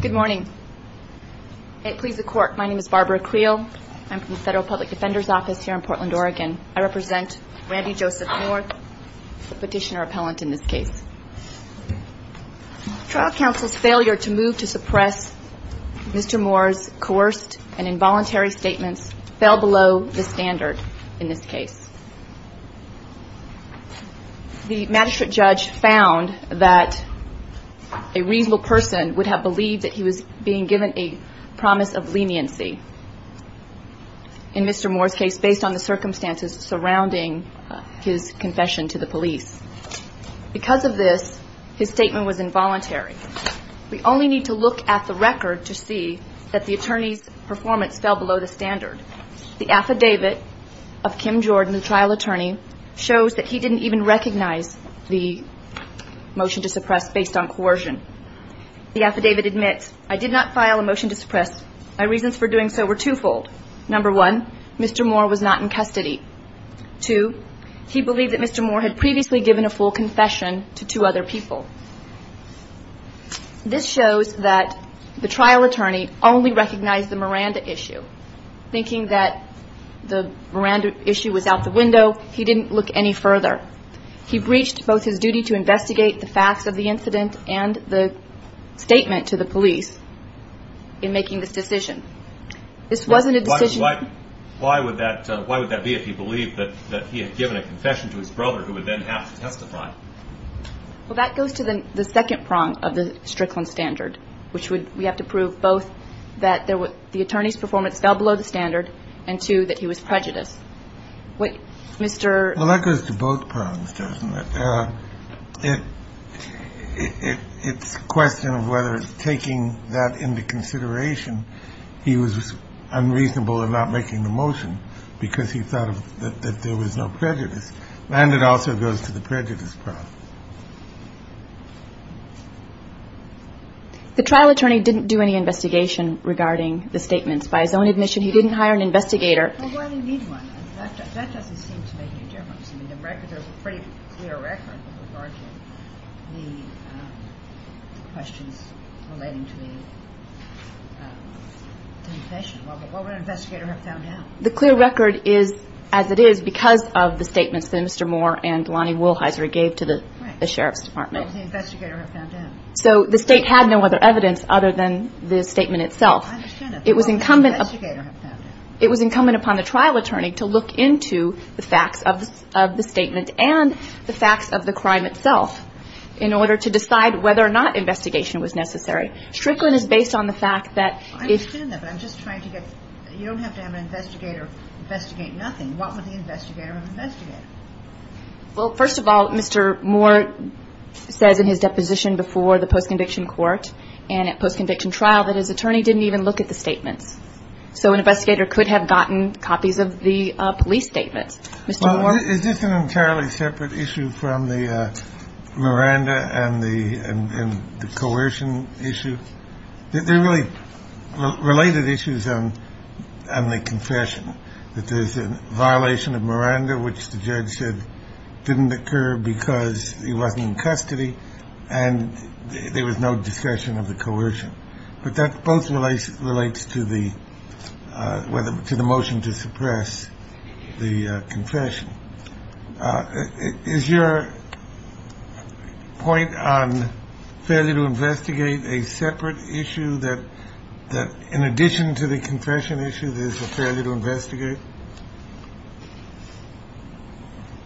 Good morning. It pleases the Court, my name is Barbara Creel. I'm from the Federal Public Defender's Office here in Portland, Oregon. I represent Randy Joseph Moore, the petitioner appellant in this case. Trial counsel's failure to move to suppress Mr. Moore's coerced and involuntary statements fell below the standard in this case. The Magistrate Judge found that a reasonable person would have believed that he was being given a promise of leniency in Mr. Moore's case based on the circumstances surrounding his confession to the police. Because of this, his statement was involuntary. We only need to look at the record to see that the attorney's performance fell below the standard. The affidavit of Kim Jordan, the trial attorney, shows that he didn't even recognize the motion to suppress based on coercion. The affidavit admits, I did not file a motion to suppress. My reasons for doing so were twofold. Number one, Mr. Moore was not in custody. Two, he believed that Mr. Moore had previously given a full confession to two other people. This shows that the trial attorney only recognized the Miranda issue. Thinking that the Miranda issue was out the window, he didn't look any further. He breached both his duty to investigate the facts of the incident and the statement to the police in making this decision. This wasn't a decision... Why would that be if he believed that he had given a confession to his brother who would then have to testify? Well, that goes to the second prong of the Strickland standard, which would, we have to prove both that the attorney's performance fell below the standard and two, that he was prejudiced. Mr. Well, that goes to both prongs, doesn't it? It's a question of whether taking that into consideration, he was unreasonable in not making the motion because he thought that there was no prejudice. And it also goes to the prejudice prong. The trial attorney didn't do any investigation regarding the statements. By his own admission, he didn't hire an investigator. Well, why do you need one? That doesn't seem to make any difference. I mean, the record, there's a pretty clear record regarding the questions relating to the confession. What would an investigator have found out? The clear record is as it is because of the statements that Mr. Moore and Lonnie Wolheiser gave to the sheriff's department. What would the investigator have found out? So the state had no other evidence other than the statement itself. I understand that. It was incumbent upon the trial attorney to look into the facts of the statement and the facts of the crime itself in order to decide whether or not investigation was necessary. Strickland is based on the fact that... You don't have to have an investigator investigate nothing. What would the investigator investigate? Well, first of all, Mr. Moore says in his deposition before the post-conviction court and at post-conviction trial that his attorney didn't even look at the statements. So an investigator could have gotten copies of the police statements. Is this an entirely separate issue from the Miranda and the coercion issue? They're really related issues on the confession, that there's a violation of Miranda, which the judge said didn't occur because he wasn't in custody. And there was no discussion of the coercion. But that both relates to the whether to the motion to suppress the confession. Is your point on failure to investigate a separate issue that, in addition to the confession issue, there's a failure to investigate?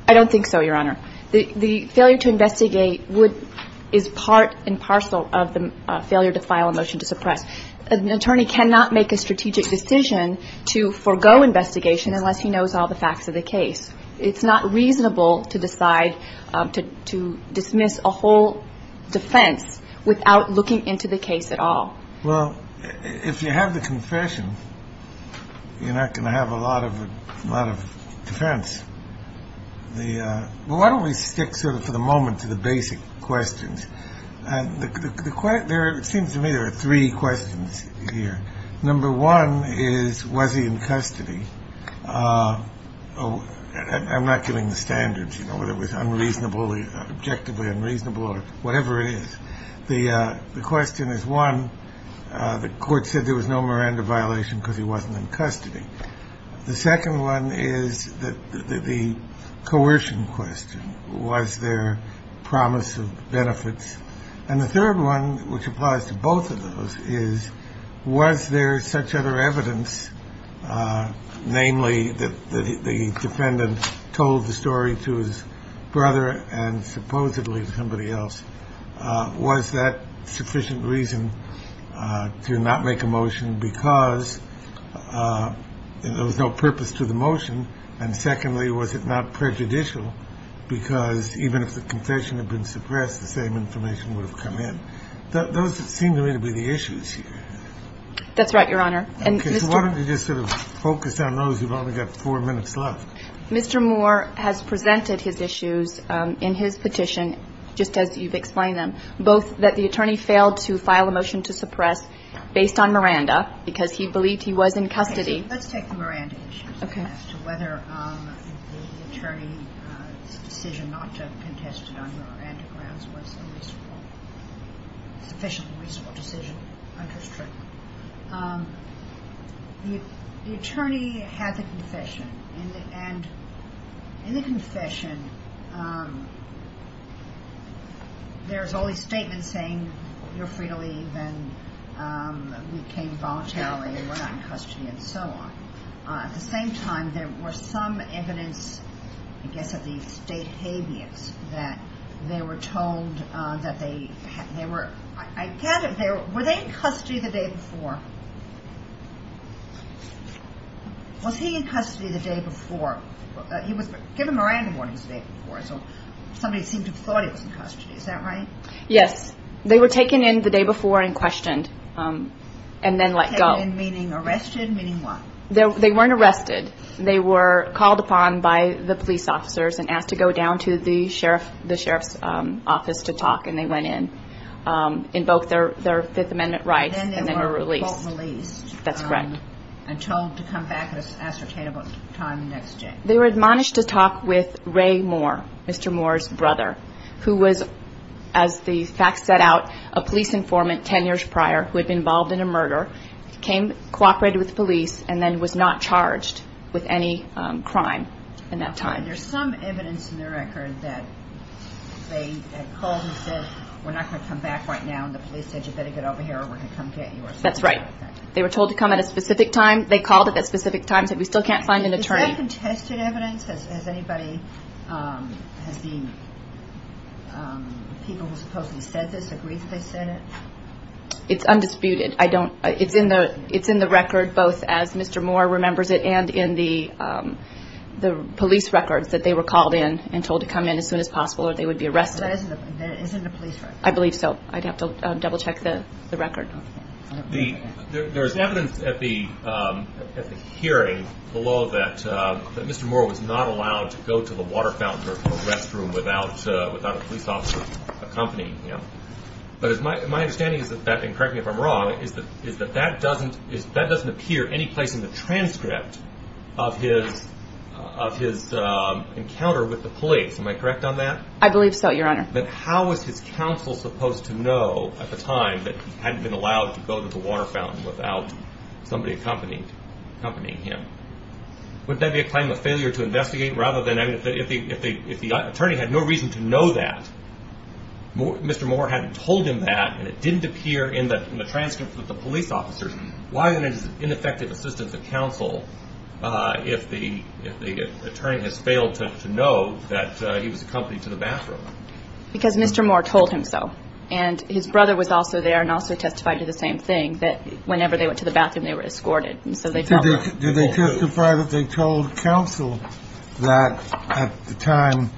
I don't think so, Your Honor. The failure to investigate is part and parcel of the failure to file a motion to suppress. An attorney cannot make a strategic decision to forego investigation unless he knows all the facts of the case. It's not reasonable to decide to dismiss a whole defense without looking into the case at all. Well, if you have the confession, you're not going to have a lot of defense. Why don't we stick sort of for the moment to the basic questions? There seems to me there are three questions here. Number one is, was he in custody? I'm not getting the standards, you know, whether it was unreasonably, objectively unreasonable or whatever it is. The question is, one, the court said there was no Miranda violation because he wasn't in custody. The second one is the coercion question. Was there promise of benefits? And the third one, which applies to both of those, is, was there such other evidence, namely, that the defendant told the story to his brother and supposedly to somebody else? Was that sufficient reason to not make a motion because there was no purpose to the motion? And secondly, was it not prejudicial because even if the confession had been suppressed, the same information would have come in? Those seem to me to be the issues here. That's right, Your Honor. Okay. So why don't we just sort of focus on those? We've only got four minutes left. Mr. Moore has presented his issues in his petition, just as you've explained them, both that the attorney failed to file a motion to suppress based on Miranda because he believed he was in custody. Let's take the Miranda issue. Okay. As to whether the attorney's decision not to contest it on the Miranda grounds was a reasonable, sufficiently reasonable decision. The attorney had the confession. And in the confession, there's all these statements saying you're free to leave and we came voluntarily and we're not in custody and so on. At the same time, there were some evidence, I guess, of these state caveats, that they were told that they were – were they in custody the day before? Was he in custody the day before? He was given Miranda warnings the day before, so somebody seemed to have thought he was in custody. Is that right? Yes. They were taken in the day before and questioned and then let go. Taken in meaning arrested, meaning what? They weren't arrested. They were called upon by the police officers and asked to go down to the sheriff's office to talk and they went in, invoked their Fifth Amendment rights and then were released. And then they were released. That's correct. And told to come back at an ascertainable time the next day. They were admonished to talk with Ray Moore, Mr. Moore's brother, who was, as the facts set out, a police informant 10 years prior who had been involved in a murder, came, cooperated with the police, and then was not charged with any crime in that time. There's some evidence in the record that they had called and said, we're not going to come back right now and the police said you better get over here or we're going to come get you or something like that. That's right. They were told to come at a specific time. They called at a specific time and said, we still can't find an attorney. Is that contested evidence? Has anybody, has the people who supposedly said this agreed that they said it? It's undisputed. It's in the record both as Mr. Moore remembers it and in the police records that they were called in and told to come in as soon as possible or they would be arrested. That isn't a police record. I believe so. I'd have to double check the record. There's evidence at the hearing below that Mr. Moore was not allowed to go to the water fountain or the restroom without a police officer accompanying him. But my understanding is that, and correct me if I'm wrong, is that that doesn't appear any place in the transcript of his encounter with the police. Am I correct on that? I believe so, Your Honor. But how was his counsel supposed to know at the time that he hadn't been allowed to go to the water fountain without somebody accompanying him? Wouldn't that be a claim of failure to investigate? Rather than, if the attorney had no reason to know that, Mr. Moore hadn't told him that and it didn't appear in the transcript with the police officers, why then is it ineffective assistance of counsel if the attorney has failed to know that he was accompanied to the bathroom? Because Mr. Moore told him so. And his brother was also there and also testified to the same thing, that whenever they went to the bathroom, they were escorted. And so they felt that. Did they testify that they told counsel that at the time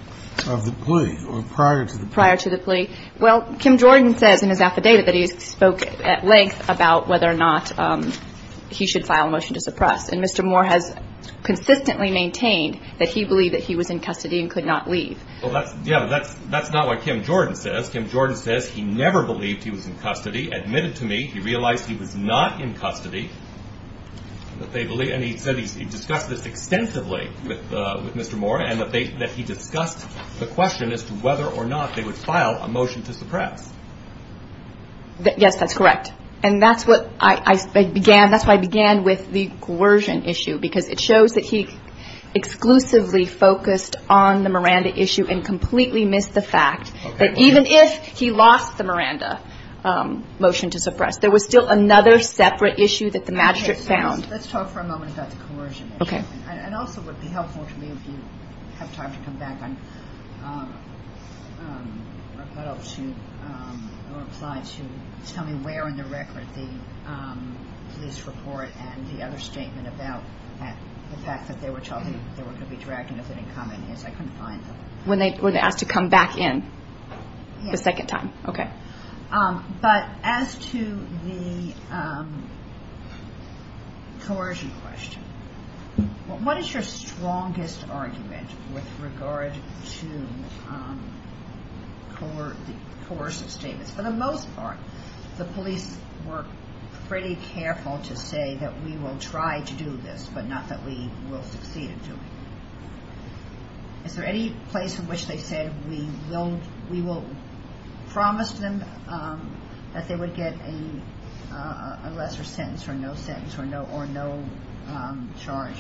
of the plea or prior to the plea? Prior to the plea. Well, Kim Jordan says in his affidavit that he spoke at length about whether or not he should file a motion to suppress. And Mr. Moore has consistently maintained that he believed that he was in custody and could not leave. Yeah, but that's not what Kim Jordan says. Kim Jordan says he never believed he was in custody, admitted to me, he realized he was not in custody, and he said he discussed this extensively with Mr. Moore and that he discussed the question as to whether or not they would file a motion to suppress. Yes, that's correct. And that's what I began with, the coercion issue, because it shows that he exclusively focused on the Miranda issue and completely missed the fact that even if he lost the Miranda motion to suppress, there was still another separate issue that the magistrate found. Let's talk for a moment about the coercion issue. Okay. The police report and the other statement about the fact that they were going to be dragged in if they didn't come in, I couldn't find them. When they were asked to come back in the second time? Yes. Okay. But as to the coercion question, what is your strongest argument with regard to the coercive statements? For the most part, the police were pretty careful to say that we will try to do this, but not that we will succeed in doing it. Is there any place in which they said, we will promise them that they would get a lesser sentence or no sentence or no charge?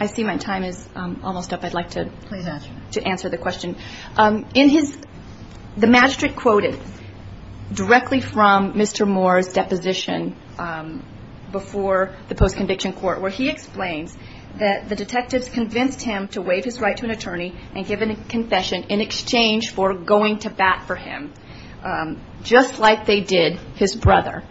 I see my time is almost up. I'd like to answer the question. The magistrate quoted directly from Mr. Moore's deposition before the post-conviction court, where he explains that the detectives convinced him to waive his right to an attorney and give a confession in exchange for going to bat for him, just like they did his brother.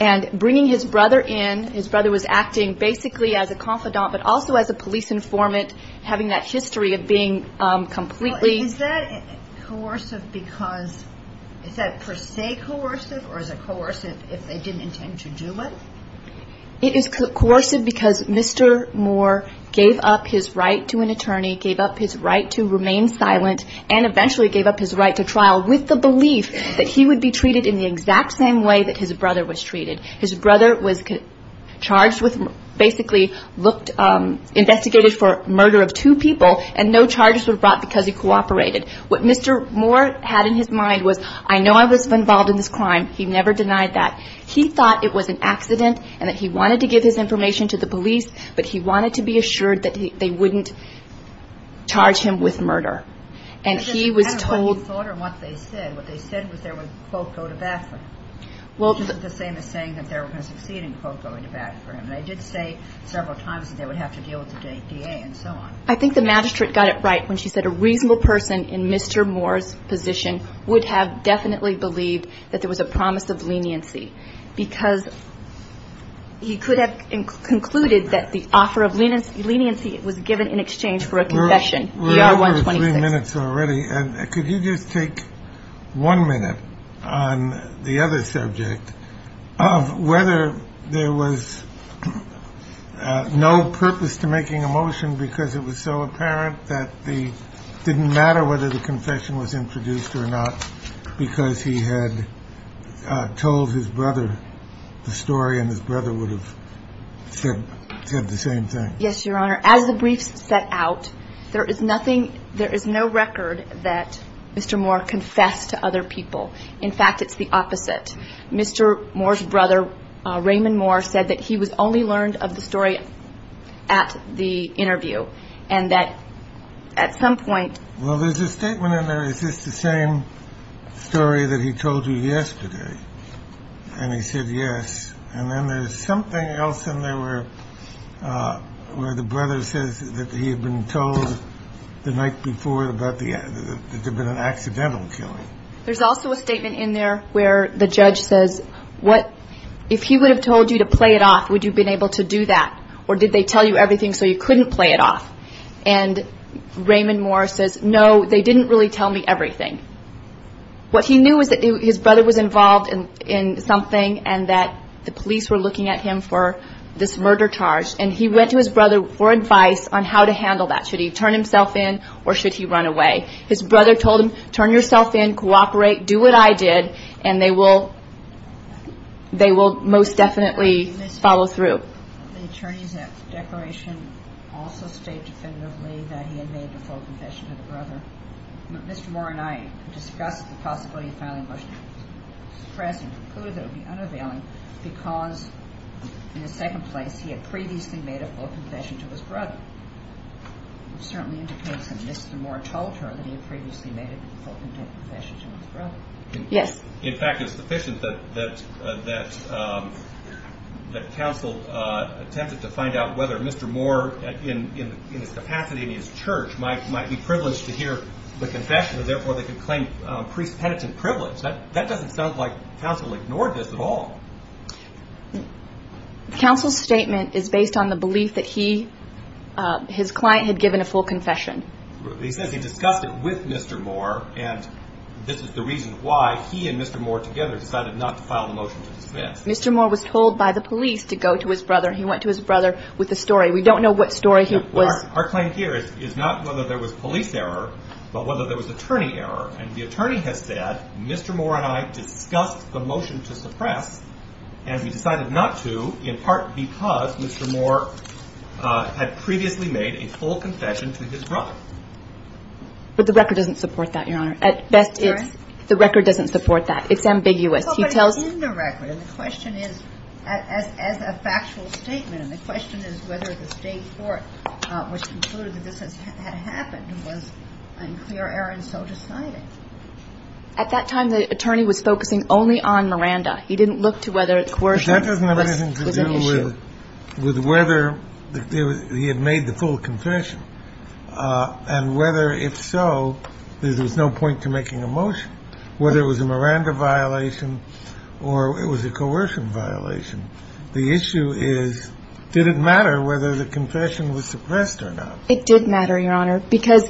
And bringing his brother in, his brother was acting basically as a confidant, but also as a police informant, having that history of being completely. Is that per se coercive, or is it coercive if they didn't intend to do it? It is coercive because Mr. Moore gave up his right to an attorney, gave up his right to remain silent, and eventually gave up his right to trial with the belief that he would be treated in the exact same way that his brother was treated. His brother was charged with basically looked, investigated for murder of two people, and no charges were brought because he cooperated. What Mr. Moore had in his mind was, I know I was involved in this crime. He never denied that. He thought it was an accident and that he wanted to give his information to the police, but he wanted to be assured that they wouldn't charge him with murder. And he was told. I think the magistrate got it right when she said a reasonable person in Mr. Moore's position would have definitely believed that there was a promise of leniency because he could have concluded that the offer of leniency was given in exchange for a confession. We're over three minutes already. And could you just take one minute on the other subject of whether there was no purpose to making a motion because it was so apparent that it didn't matter whether the confession was introduced or not because he had told his brother the story and his brother would have said the same thing? Yes, Your Honor. As the briefs set out, there is no record that Mr. Moore confessed to other people. In fact, it's the opposite. Mr. Moore's brother, Raymond Moore, said that he was only learned of the story at the interview and that at some point. Well, there's a statement in there. Is this the same story that he told you yesterday? And he said yes. And then there's something else in there where the brother says that he had been told the night before that there had been an accidental killing. There's also a statement in there where the judge says, if he would have told you to play it off, would you have been able to do that? Or did they tell you everything so you couldn't play it off? And Raymond Moore says, no, they didn't really tell me everything. What he knew was that his brother was involved in something and that the police were looking at him for this murder charge, and he went to his brother for advice on how to handle that. Should he turn himself in or should he run away? His brother told him, turn yourself in, cooperate, do what I did, and they will most definitely follow through. The attorney's declaration also stated definitively that he had made the full confession to the brother. Mr. Moore and I discussed the possibility of filing a motion to suppress and conclude that it would be unavailing because, in the second place, he had previously made a full confession to his brother. It certainly indicates that Mr. Moore told her that he had previously made a full confession to his brother. Yes. In fact, it's sufficient that counsel attempted to find out whether Mr. Moore, in his capacity in his church, might be privileged to hear the confession, and therefore they could claim priest-penitent privilege. That doesn't sound like counsel ignored this at all. Counsel's statement is based on the belief that he, his client, had given a full confession. He says he discussed it with Mr. Moore, and this is the reason why he and Mr. Moore together decided not to file a motion to dismiss. Mr. Moore was told by the police to go to his brother. He went to his brother with a story. We don't know what story he was- Our claim here is not whether there was police error, but whether there was attorney error. And the attorney has said, Mr. Moore and I discussed the motion to suppress, and we decided not to, in part because Mr. Moore had previously made a full confession to his brother. But the record doesn't support that, Your Honor. At best, it's- Erin? The record doesn't support that. It's ambiguous. He tells- Well, but it's in the record, and the question is, as a factual statement, and the question is whether the state court, which concluded that this had happened, was unclear error and so decided. At that time, the attorney was focusing only on Miranda. He didn't look to whether coercion was an issue. But that doesn't have anything to do with whether he had made the full confession and whether, if so, there was no point to making a motion, whether it was a Miranda violation or it was a coercion violation. The issue is, did it matter whether the confession was suppressed or not? It did matter, Your Honor, because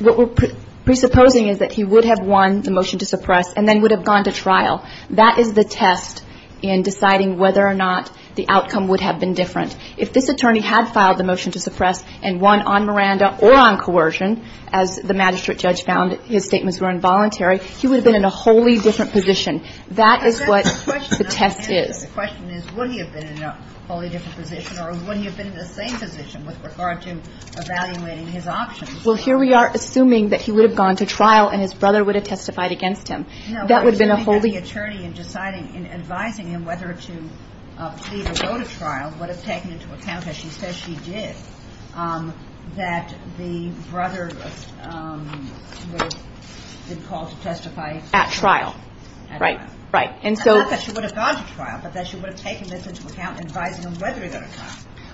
what we're presupposing is that he would have won the motion to suppress and then would have gone to trial. That is the test in deciding whether or not the outcome would have been different. If this attorney had filed the motion to suppress and won on Miranda or on coercion, as the magistrate judge found his statements were involuntary, he would have been in a wholly different position. That is what the test is. The question is, would he have been in a wholly different position, or would he have been in the same position with regard to evaluating his options? Well, here we are assuming that he would have gone to trial and his brother would have testified against him. That would have been a wholly ñ No, but I think that the attorney in deciding, in advising him whether to plead or go to trial, would have taken into account, as she says she did, that the brother would have been called to testify at trial. At trial. Right. Right. And so ñ Not that she would have gone to trial, but that she would have taken this into account, advising him whether he would have gone to trial.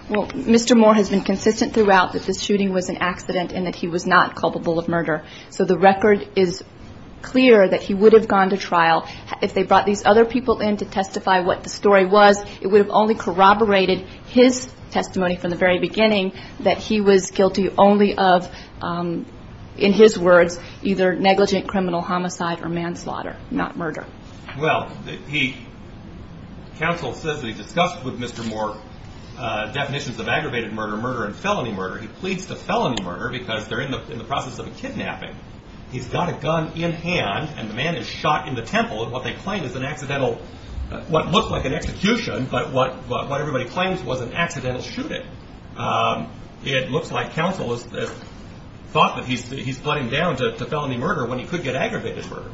Well, Mr. Moore has been consistent throughout that this shooting was an accident and that he was not culpable of murder. So the record is clear that he would have gone to trial. If they brought these other people in to testify what the story was, it would have only corroborated his testimony from the very beginning that he was guilty only of, in his words, either negligent criminal homicide or manslaughter, not murder. Well, he ñ counsel says they discussed with Mr. Moore definitions of aggravated murder, murder and felony murder. He pleads to felony murder because they're in the process of a kidnapping. He's got a gun in hand and the man is shot in the temple in what they claim is an accidental ñ what looks like an execution, but what everybody claims was an accidental shooting. It looks like counsel has thought that he's ñ he's plotting down to felony murder when he could get aggravated murder.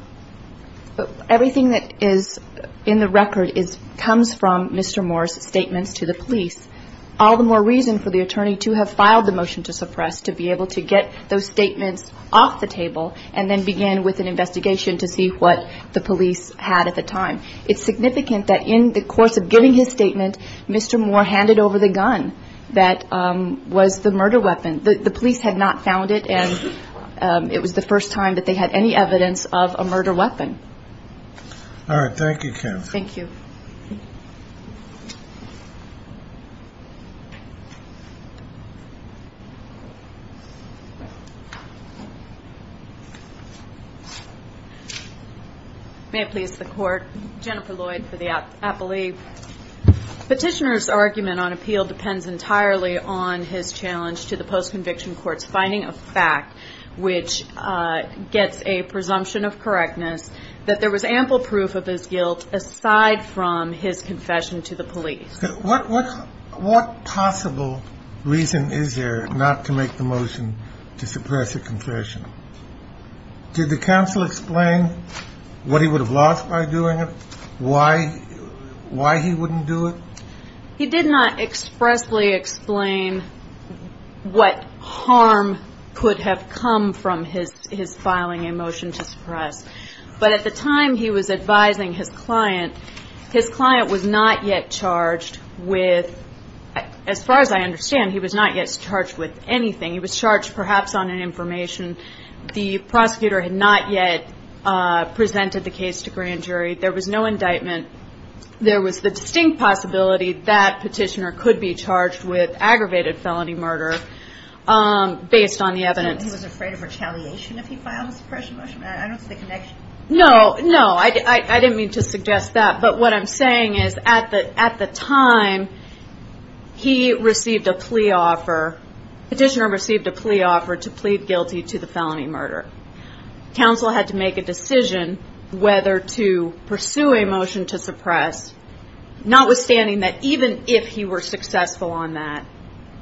Everything that is in the record is ñ comes from Mr. Moore's statements to the police. All the more reason for the attorney to have filed the motion to suppress to be able to get those statements off the table and then begin with an investigation to see what the police had at the time. It's significant that in the course of giving his statement, Mr. Moore handed over the gun that was the murder weapon. The police had not found it and it was the first time that they had any evidence of a murder weapon. All right. Thank you, Kim. Thank you. May it please the court, Jennifer Lloyd for the appellee. Petitioner's argument on appeal depends entirely on his challenge to the post-conviction court's finding of fact, which gets a presumption of correctness, that there was ample proof of his guilt aside from his confession to the police. What possible reason is there not to make the motion to suppress a confession? Did the counsel explain what he would have lost by doing it, why he wouldn't do it? He did not expressly explain what harm could have come from his filing a motion to suppress. But at the time he was advising his client, his client was not yet charged with, as far as I understand, he was not yet charged with anything. He was charged perhaps on an information. The prosecutor had not yet presented the case to grand jury. There was no indictment. There was the distinct possibility that petitioner could be charged with aggravated felony murder based on the evidence. He was afraid of retaliation if he filed a suppression motion? I don't see the connection. No, no. I didn't mean to suggest that. But what I'm saying is at the time he received a plea offer, petitioner received a plea offer to plead guilty to the felony murder. Counsel had to make a decision whether to pursue a motion to suppress, notwithstanding that even if he were successful on that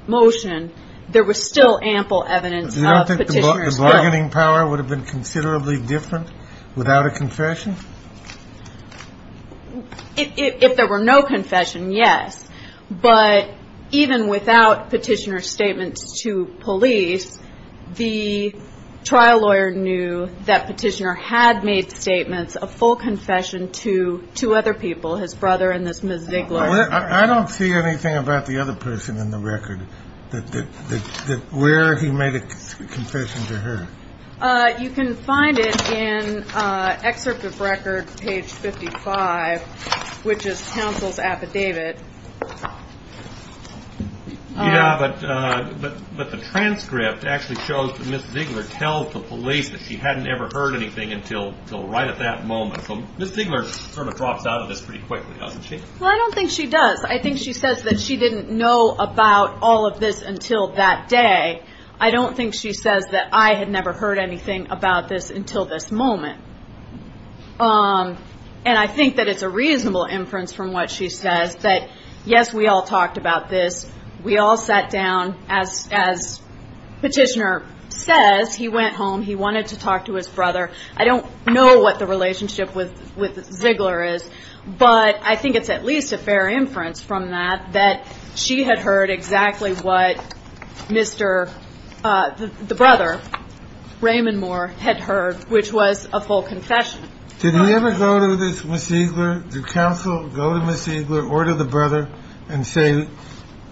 motion, there was still ample evidence of petitioner's guilt. You don't think the bargaining power would have been considerably different without a confession? If there were no confession, yes. But even without petitioner's statements to police, the trial lawyer knew that petitioner had made statements of full confession to two other people, his brother and this Ms. Ziegler. I don't see anything about the other person in the record that where he made a confession to her. You can find it in excerpt of record, page 55, which is counsel's affidavit. Yeah, but the transcript actually shows that Ms. Ziegler tells the police that she hadn't ever heard anything until right at that moment. So Ms. Ziegler sort of drops out of this pretty quickly, doesn't she? Well, I don't think she does. I think she says that she didn't know about all of this until that day. I don't think she says that I had never heard anything about this until this moment. And I think that it's a reasonable inference from what she says that, yes, we all talked about this. We all sat down. As petitioner says, he went home. He wanted to talk to his brother. I don't know what the relationship with Ziegler is, But I think it's at least a fair inference from that, that she had heard exactly what Mr. The brother, Raymond Moore, had heard, which was a full confession. Did he ever go to this Ms. Ziegler? Did counsel go to Ms. Ziegler or to the brother and say,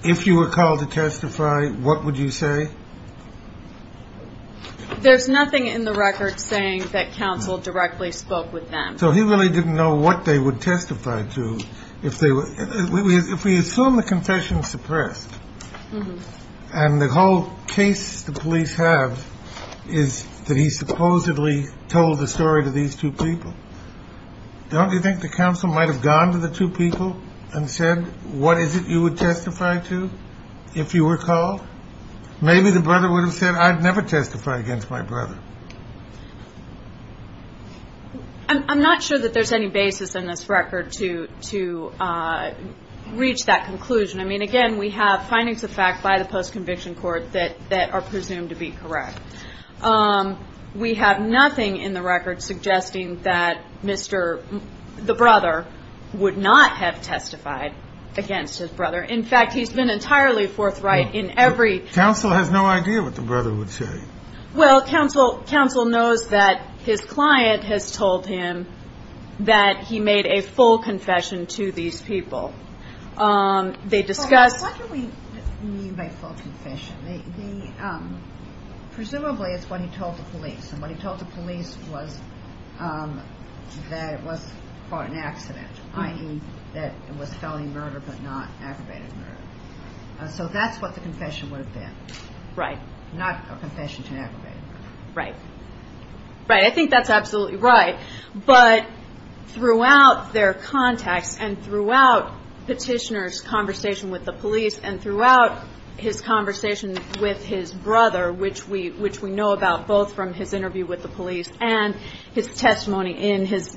if you were called to testify, what would you say? There's nothing in the record saying that counsel directly spoke with them. So he really didn't know what they would testify to. If they were if we assume the confession suppressed and the whole case, the police have is that he supposedly told the story to these two people. Don't you think the council might have gone to the two people and said, what is it you would testify to if you were called? Maybe the brother would have said, I'd never testify against my brother. I'm not sure that there's any basis in this record to to reach that conclusion. I mean, again, we have findings of fact by the post conviction court that that are presumed to be correct. We have nothing in the record suggesting that Mr. The brother would not have testified against his brother. In fact, he's been entirely forthright in every council has no idea what the brother would say. Well, counsel counsel knows that his client has told him that he made a full confession to these people. They discussed what do we mean by full confession? Presumably it's what he told the police and what he told the police was that it was an accident, i.e. that it was felony murder, but not aggravated murder. So that's what the confession would have been. Right. Not a confession to aggravate. Right. Right. I think that's absolutely right. But throughout their contacts and throughout petitioners conversation with the police and throughout his conversation with his brother, which we which we know about both from his interview with the police and his testimony in his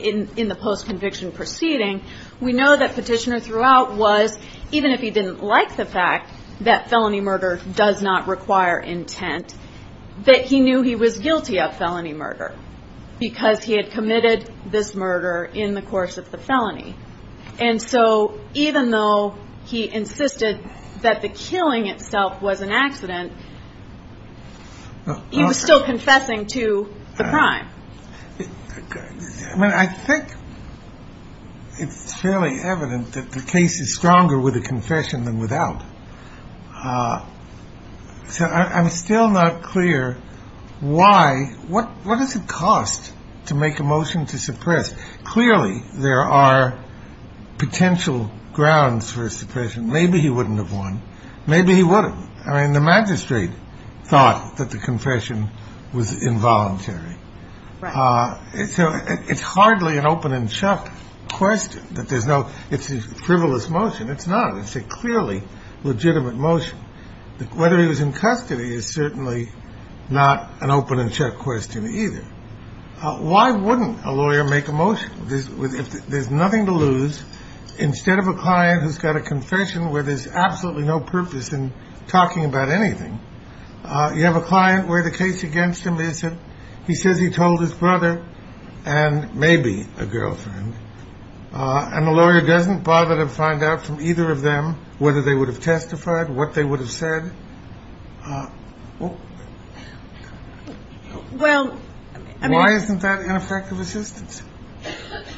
in the post conviction proceeding. We know that petitioner throughout was even if he didn't like the fact that felony murder does not require intent, that he knew he was guilty of felony murder because he had committed this murder in the course of the felony. And so even though he insisted that the killing itself was an accident, he was still confessing to the crime. I mean, I think it's fairly evident that the case is stronger with a confession than without. So I'm still not clear why. What what does it cost to make a motion to suppress? Clearly, there are potential grounds for suppression. Maybe he wouldn't have won. Maybe he wouldn't. I mean, the magistrate thought that the confession was involuntary. So it's hardly an open and shut question that there's no it's a frivolous motion. It's not a clearly legitimate motion. Whether he was in custody is certainly not an open and shut question either. Why wouldn't a lawyer make a motion with if there's nothing to lose instead of a client who's got a confession where there's absolutely no purpose in talking about anything? You have a client where the case against him isn't. He says he told his brother and maybe a girlfriend. And the lawyer doesn't bother to find out from either of them whether they would have testified what they would have said. Well, I mean, why isn't that ineffective assistance?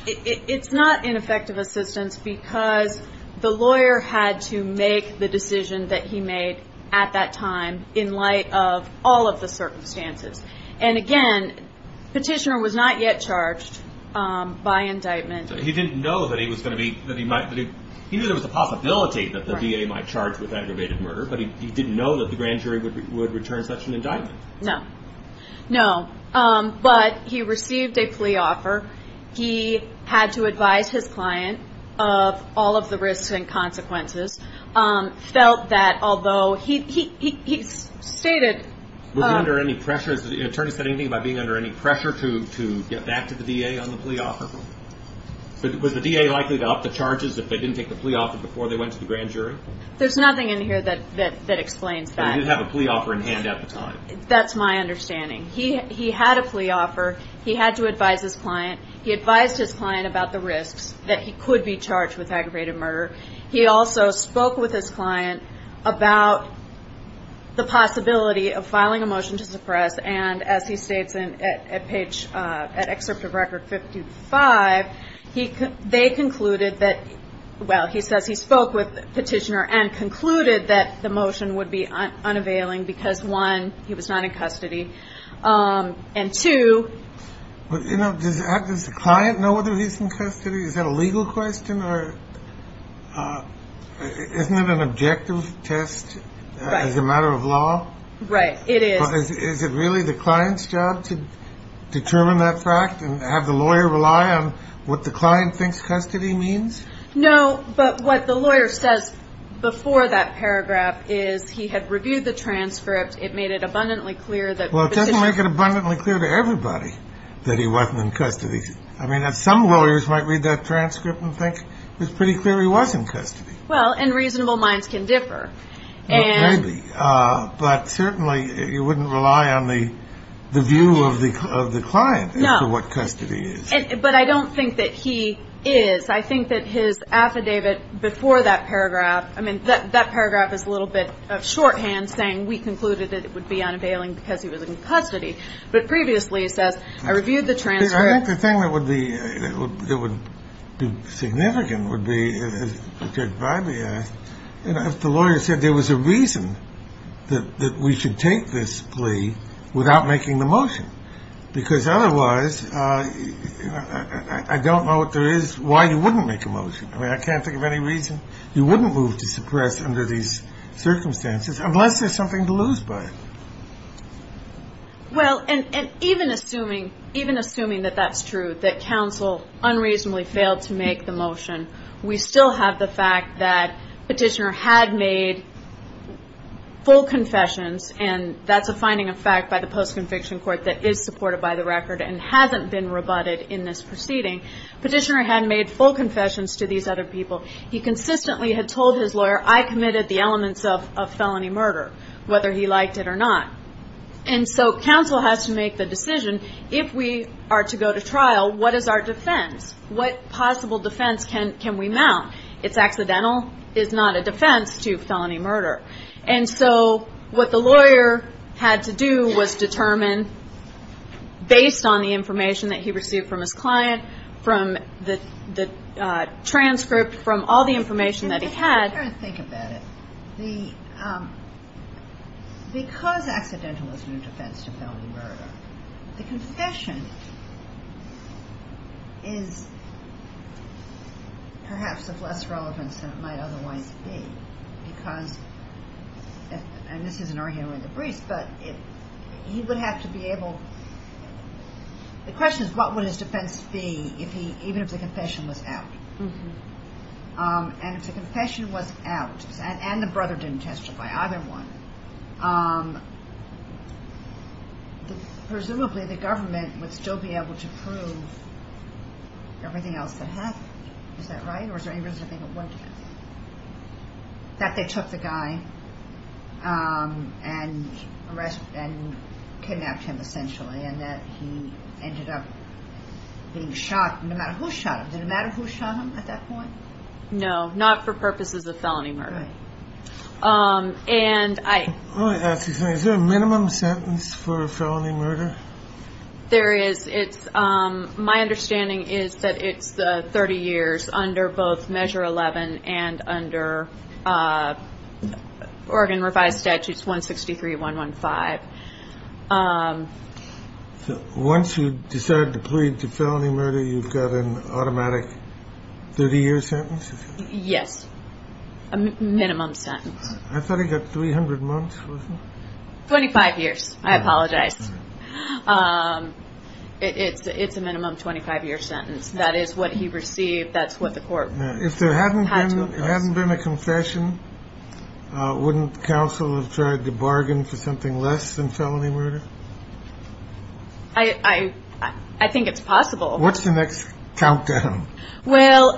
It's not ineffective assistance because the lawyer had to make the decision that he made at that time in light of all of the circumstances. And again, petitioner was not yet charged by indictment. He didn't know that he was going to be that he might be. He knew there was a possibility that the D.A. might charge with aggravated murder, but he didn't know that the grand jury would return such an indictment. No, no. But he received a plea offer. He had to advise his client of all of the risks and consequences felt that although he he stated under any pressure, the attorney said anything about being under any pressure to get back to the D.A. on the plea offer. Was the D.A. likely to up the charges if they didn't take the plea offer before they went to the grand jury? There's nothing in here that that explains that. He did have a plea offer in hand at the time. That's my understanding. He he had a plea offer. He had to advise his client. He advised his client about the risks that he could be charged with aggravated murder. He also spoke with his client about the possibility of filing a motion to suppress. And as he states in a page at Excerpt of Record 55, he they concluded that. Well, he says he spoke with Petitioner and concluded that the motion would be unavailing because, one, he was not in custody. And two, you know, does the client know whether he's in custody? Is that a legal question or isn't it an objective test as a matter of law? Right. It is. Is it really the client's job to determine that fact and have the lawyer rely on what the client thinks custody means? No. But what the lawyer says before that paragraph is he had reviewed the transcript. It made it abundantly clear that. Well, it doesn't make it abundantly clear to everybody that he wasn't in custody. I mean, some lawyers might read that transcript and think it's pretty clear he was in custody. Well, and reasonable minds can differ. Well, maybe. But certainly you wouldn't rely on the view of the client as to what custody is. But I don't think that he is. I think that his affidavit before that paragraph, I mean, that paragraph is a little bit of shorthand saying we concluded that it would be unavailing because he was in custody. But previously it says, I reviewed the transcript. I think the thing that would be significant would be, as Judge Biby asked, if the lawyer said there was a reason that we should take this plea without making the motion. Because otherwise, I don't know what there is, why you wouldn't make a motion. I mean, I can't think of any reason you wouldn't move to suppress under these circumstances unless there's something to lose by it. Well, and even assuming that that's true, that counsel unreasonably failed to make the motion, we still have the fact that petitioner had made full confessions, and that's a finding of fact by the post-conviction court that is supported by the record and hasn't been rebutted in this proceeding. Petitioner had made full confessions to these other people. He consistently had told his lawyer, I committed the elements of felony murder, whether he liked it or not. And so counsel has to make the decision, if we are to go to trial, what is our defense? What possible defense can we mount? It's accidental, it's not a defense to felony murder. And so what the lawyer had to do was determine, based on the information that he received from his client, from the transcript, from all the information that he had. I don't think about it. Because accidental is no defense to felony murder, the confession is perhaps of less relevance than it might otherwise be, because, and this is an argument with the priest, but he would have to be able, the question is what would his defense be even if the confession was out? And if the confession was out, and the brother didn't testify, either one, presumably the government would still be able to prove everything else that happened. Is that right, or is there any reason to think it wouldn't be? That they took the guy and kidnapped him essentially, and that he ended up being shot, no matter who shot him. Did it matter who shot him at that point? No, not for purposes of felony murder. Right. And I Let me ask you something. Is there a minimum sentence for felony murder? There is. My understanding is that it's 30 years under both Measure 11 and under Oregon Revised Statutes 163.115. Once you decide to plead to felony murder, you've got an automatic 30-year sentence? Yes, a minimum sentence. I thought he got 300 months? 25 years, I apologize. It's a minimum 25-year sentence. That is what he received, that's what the court had to oppose. If there hadn't been a confession, wouldn't counsel have tried to bargain for something less than felony murder? I think it's possible. What's the next countdown? Well,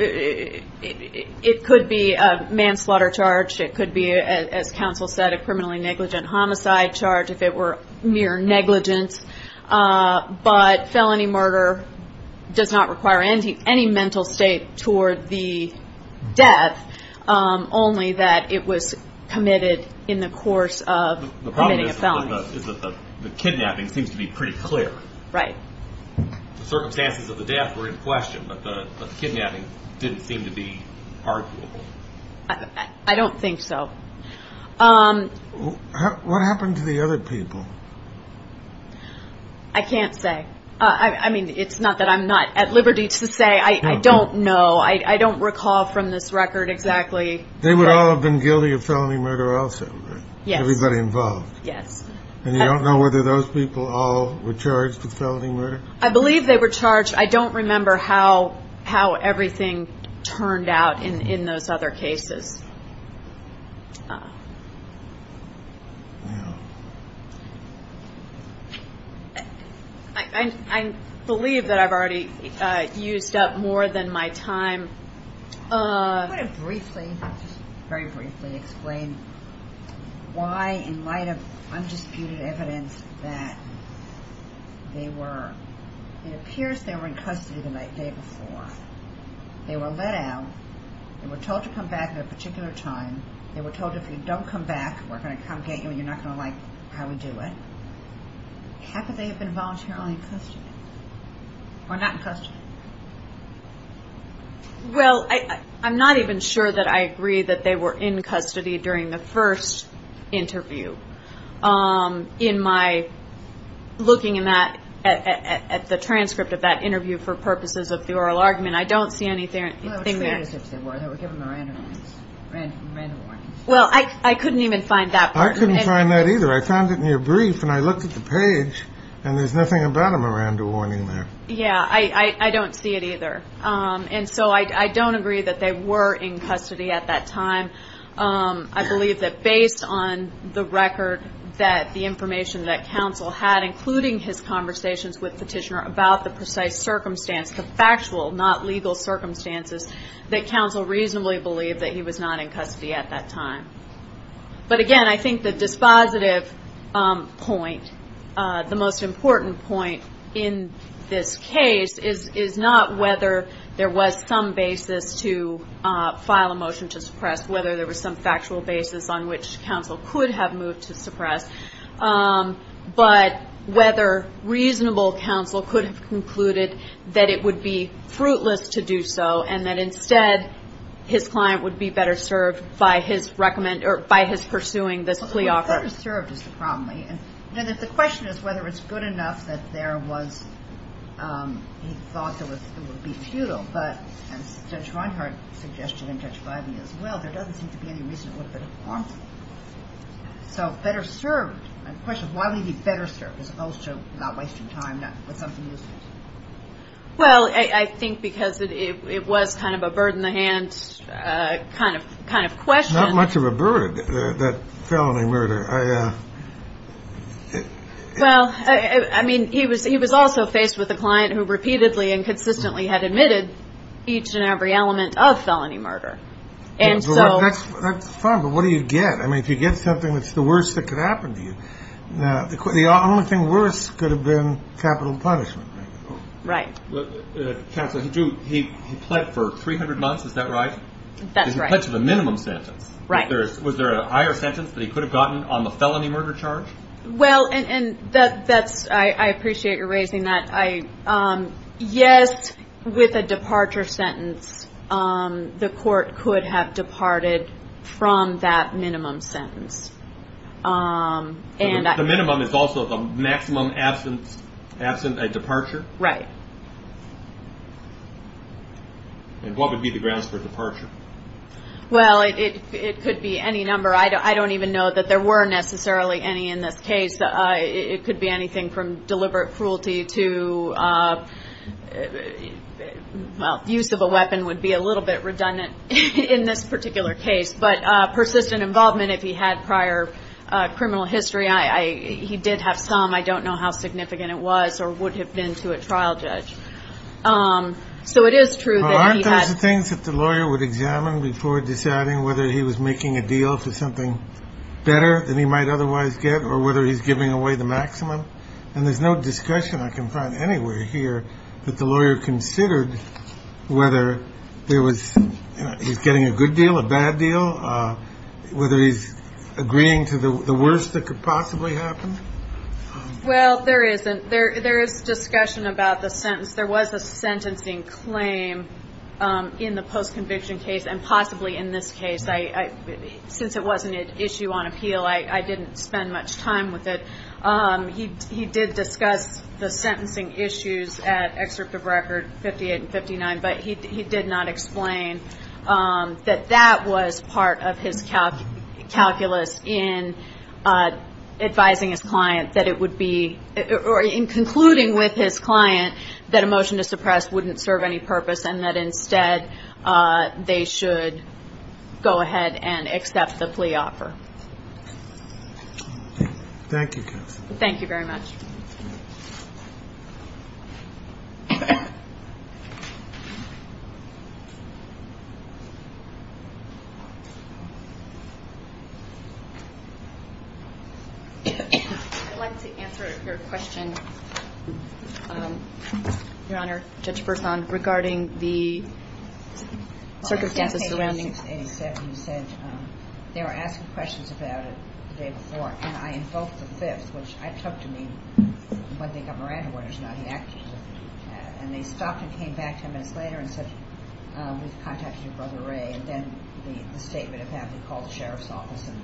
it could be a manslaughter charge. It could be, as counsel said, a criminally negligent homicide charge if it were mere negligence. But felony murder does not require any mental state toward the death, only that it was committed in the course of committing a felony. The problem is that the kidnapping seems to be pretty clear. Right. The circumstances of the death were in question, but the kidnapping didn't seem to be arguable. I don't think so. What happened to the other people? I can't say. I mean, it's not that I'm not at liberty to say. I don't know. I don't recall from this record exactly. They would all have been guilty of felony murder also, right? Yes. Everybody involved. Yes. And you don't know whether those people all were charged with felony murder? I believe they were charged. I don't remember how everything turned out in those other cases. Wow. I believe that I've already used up more than my time. I'm going to briefly, just very briefly explain why in light of undisputed evidence that they were, it appears they were in custody the day before. They were let out. They were told to come back at a particular time. They were told if you don't come back, we're going to come get you and you're not going to like how we do it. How could they have been voluntarily in custody? Or not in custody? Well, I'm not even sure that I agree that they were in custody during the first interview. In my looking in that, at the transcript of that interview for purposes of the oral argument, I don't see anything there. Well, I couldn't even find that part. I couldn't find that either. I found it in your brief and I looked at the page and there's nothing about a Miranda warning there. Yeah, I don't see it either. And so I don't agree that they were in custody at that time. I believe that based on the record that the information that counsel had, including his conversations with Petitioner about the precise circumstance, the factual, not legal circumstances, that counsel reasonably believed that he was not in custody at that time. But again, I think the dispositive point, the most important point in this case, is not whether there was some basis to file a motion to suppress, whether there was some factual basis on which counsel could have moved to suppress, but whether reasonable counsel could have concluded that it would be fruitless to do so and that instead his client would be better served by his pursuing this plea offer. Well, better served is the problem. The question is whether it's good enough that there was, he thought it would be futile. But as Judge Reinhart suggested and Judge Biden as well, there doesn't seem to be any reason it would have been harmful. So better served. My question is why would he be better served as opposed to not wasting time with something useless? Well, I think because it was kind of a bird in the hand kind of question. Not much of a bird, that felony murder. Well, I mean, he was also faced with a client who repeatedly and consistently had admitted each and every element of felony murder. That's fine, but what do you get? I mean, if you get something that's the worst that could happen to you, the only thing worse could have been capital punishment. Right. Counsel, he pled for 300 months. Is that right? That's right. He pledged a minimum sentence. Right. Was there a higher sentence that he could have gotten on the felony murder charge? Well, and that's, I appreciate your raising that. Yes, with a departure sentence, the court could have departed from that minimum sentence. The minimum is also the maximum absence, a departure? Right. And what would be the grounds for departure? Well, it could be any number. I don't even know that there were necessarily any in this case. It could be anything from deliberate cruelty to, well, use of a weapon would be a little bit redundant in this particular case. But persistent involvement, if he had prior criminal history, he did have some. I don't know how significant it was or would have been to a trial judge. So it is true that he had. Well, aren't those the things that the lawyer would examine before deciding whether he was making a deal for something better than he might otherwise get or whether he's giving away the maximum? And there's no discussion I can find anywhere here that the lawyer considered whether he was getting a good deal, a bad deal, whether he's agreeing to the worst that could possibly happen. Well, there isn't. There is discussion about the sentence. There was a sentencing claim in the post-conviction case and possibly in this case. Since it wasn't an issue on appeal, I didn't spend much time with it. He did discuss the sentencing issues at excerpt of record 58 and 59, but he did not explain that that was part of his calculus in advising his client that it would be or in concluding with his client that a motion to suppress wouldn't serve any purpose and that instead they should go ahead and accept the plea offer. Thank you. Thank you very much. I'd like to answer your question, Your Honor. I'd like to ask Judge Bersan regarding the circumstances surrounding. The case of 87, you said they were asking questions about it the day before, and I invoked the fifth, which I took to mean when they got Miranda orders, not the act. And they stopped and came back ten minutes later and said we've contacted your brother Ray, and then the statement of having called the Sheriff's Office and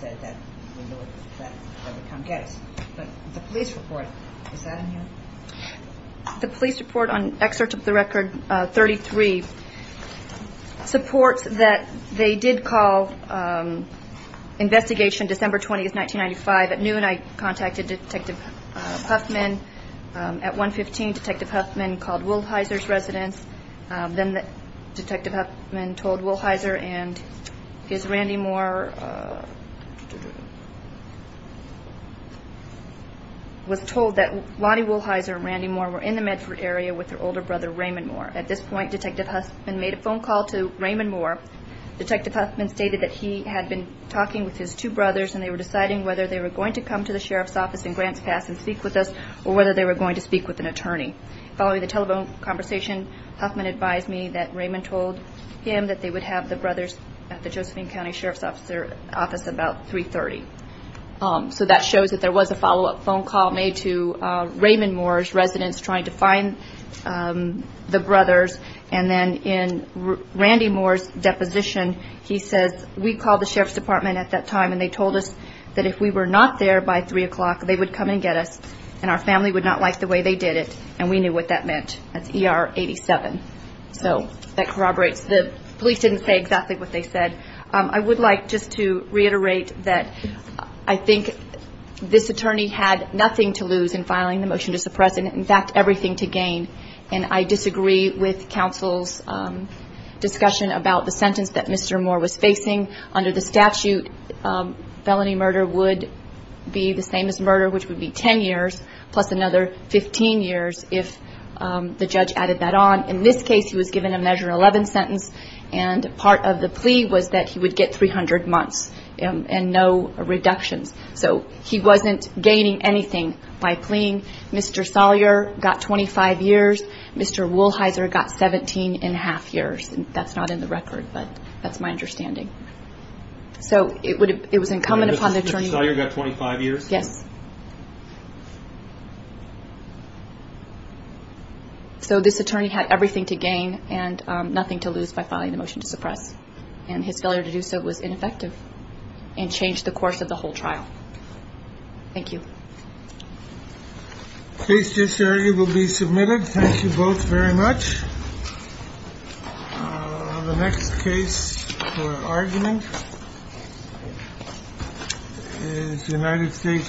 said that we knew that they would come get us. But the police report, is that in here? The police report on excerpt of the record 33 supports that they did call investigation December 20th, 1995. At noon I contacted Detective Huffman. At 1.15, Detective Huffman called Wilhyser's residence. Then Detective Huffman told Wilhyser and his Randy Moore, was told that Lonnie Wilhyser and Randy Moore were in the Medford area with their older brother Raymond Moore. At this point Detective Huffman made a phone call to Raymond Moore. Detective Huffman stated that he had been talking with his two brothers and they were deciding whether they were going to come to the Sheriff's Office in Grants Pass and speak with us or whether they were going to speak with an attorney. Following the telephone conversation, Huffman advised me that Raymond told him that they would have the brothers at the Josephine County Sheriff's Office about 3.30. So that shows that there was a follow-up phone call made to Raymond Moore's residence trying to find the brothers. And then in Randy Moore's deposition, he says we called the Sheriff's Department at that time and they told us that if we were not there by 3 o'clock they would come and get us and our family would not like the way they did it and we knew what that meant. That's ER 87. So that corroborates. The police didn't say exactly what they said. I would like just to reiterate that I think this attorney had nothing to lose in filing the motion to suppress and, in fact, everything to gain. And I disagree with counsel's discussion about the sentence that Mr. Moore was facing. Under the statute, felony murder would be the same as murder, which would be 10 years plus another 15 years if the judge added that on. In this case, he was given a measure 11 sentence, and part of the plea was that he would get 300 months and no reductions. So he wasn't gaining anything by pleaing. Mr. Sawyer got 25 years. Mr. Woolheiser got 17 and a half years. That's not in the record, but that's my understanding. So it was incumbent upon the attorney. Mr. Sawyer got 25 years? Yes. So this attorney had everything to gain and nothing to lose by filing the motion to suppress, and his failure to do so was ineffective and changed the course of the whole trial. Thank you. The case disserted will be submitted. Thank you both very much. The next case for argument is United States v. Tsai Chou.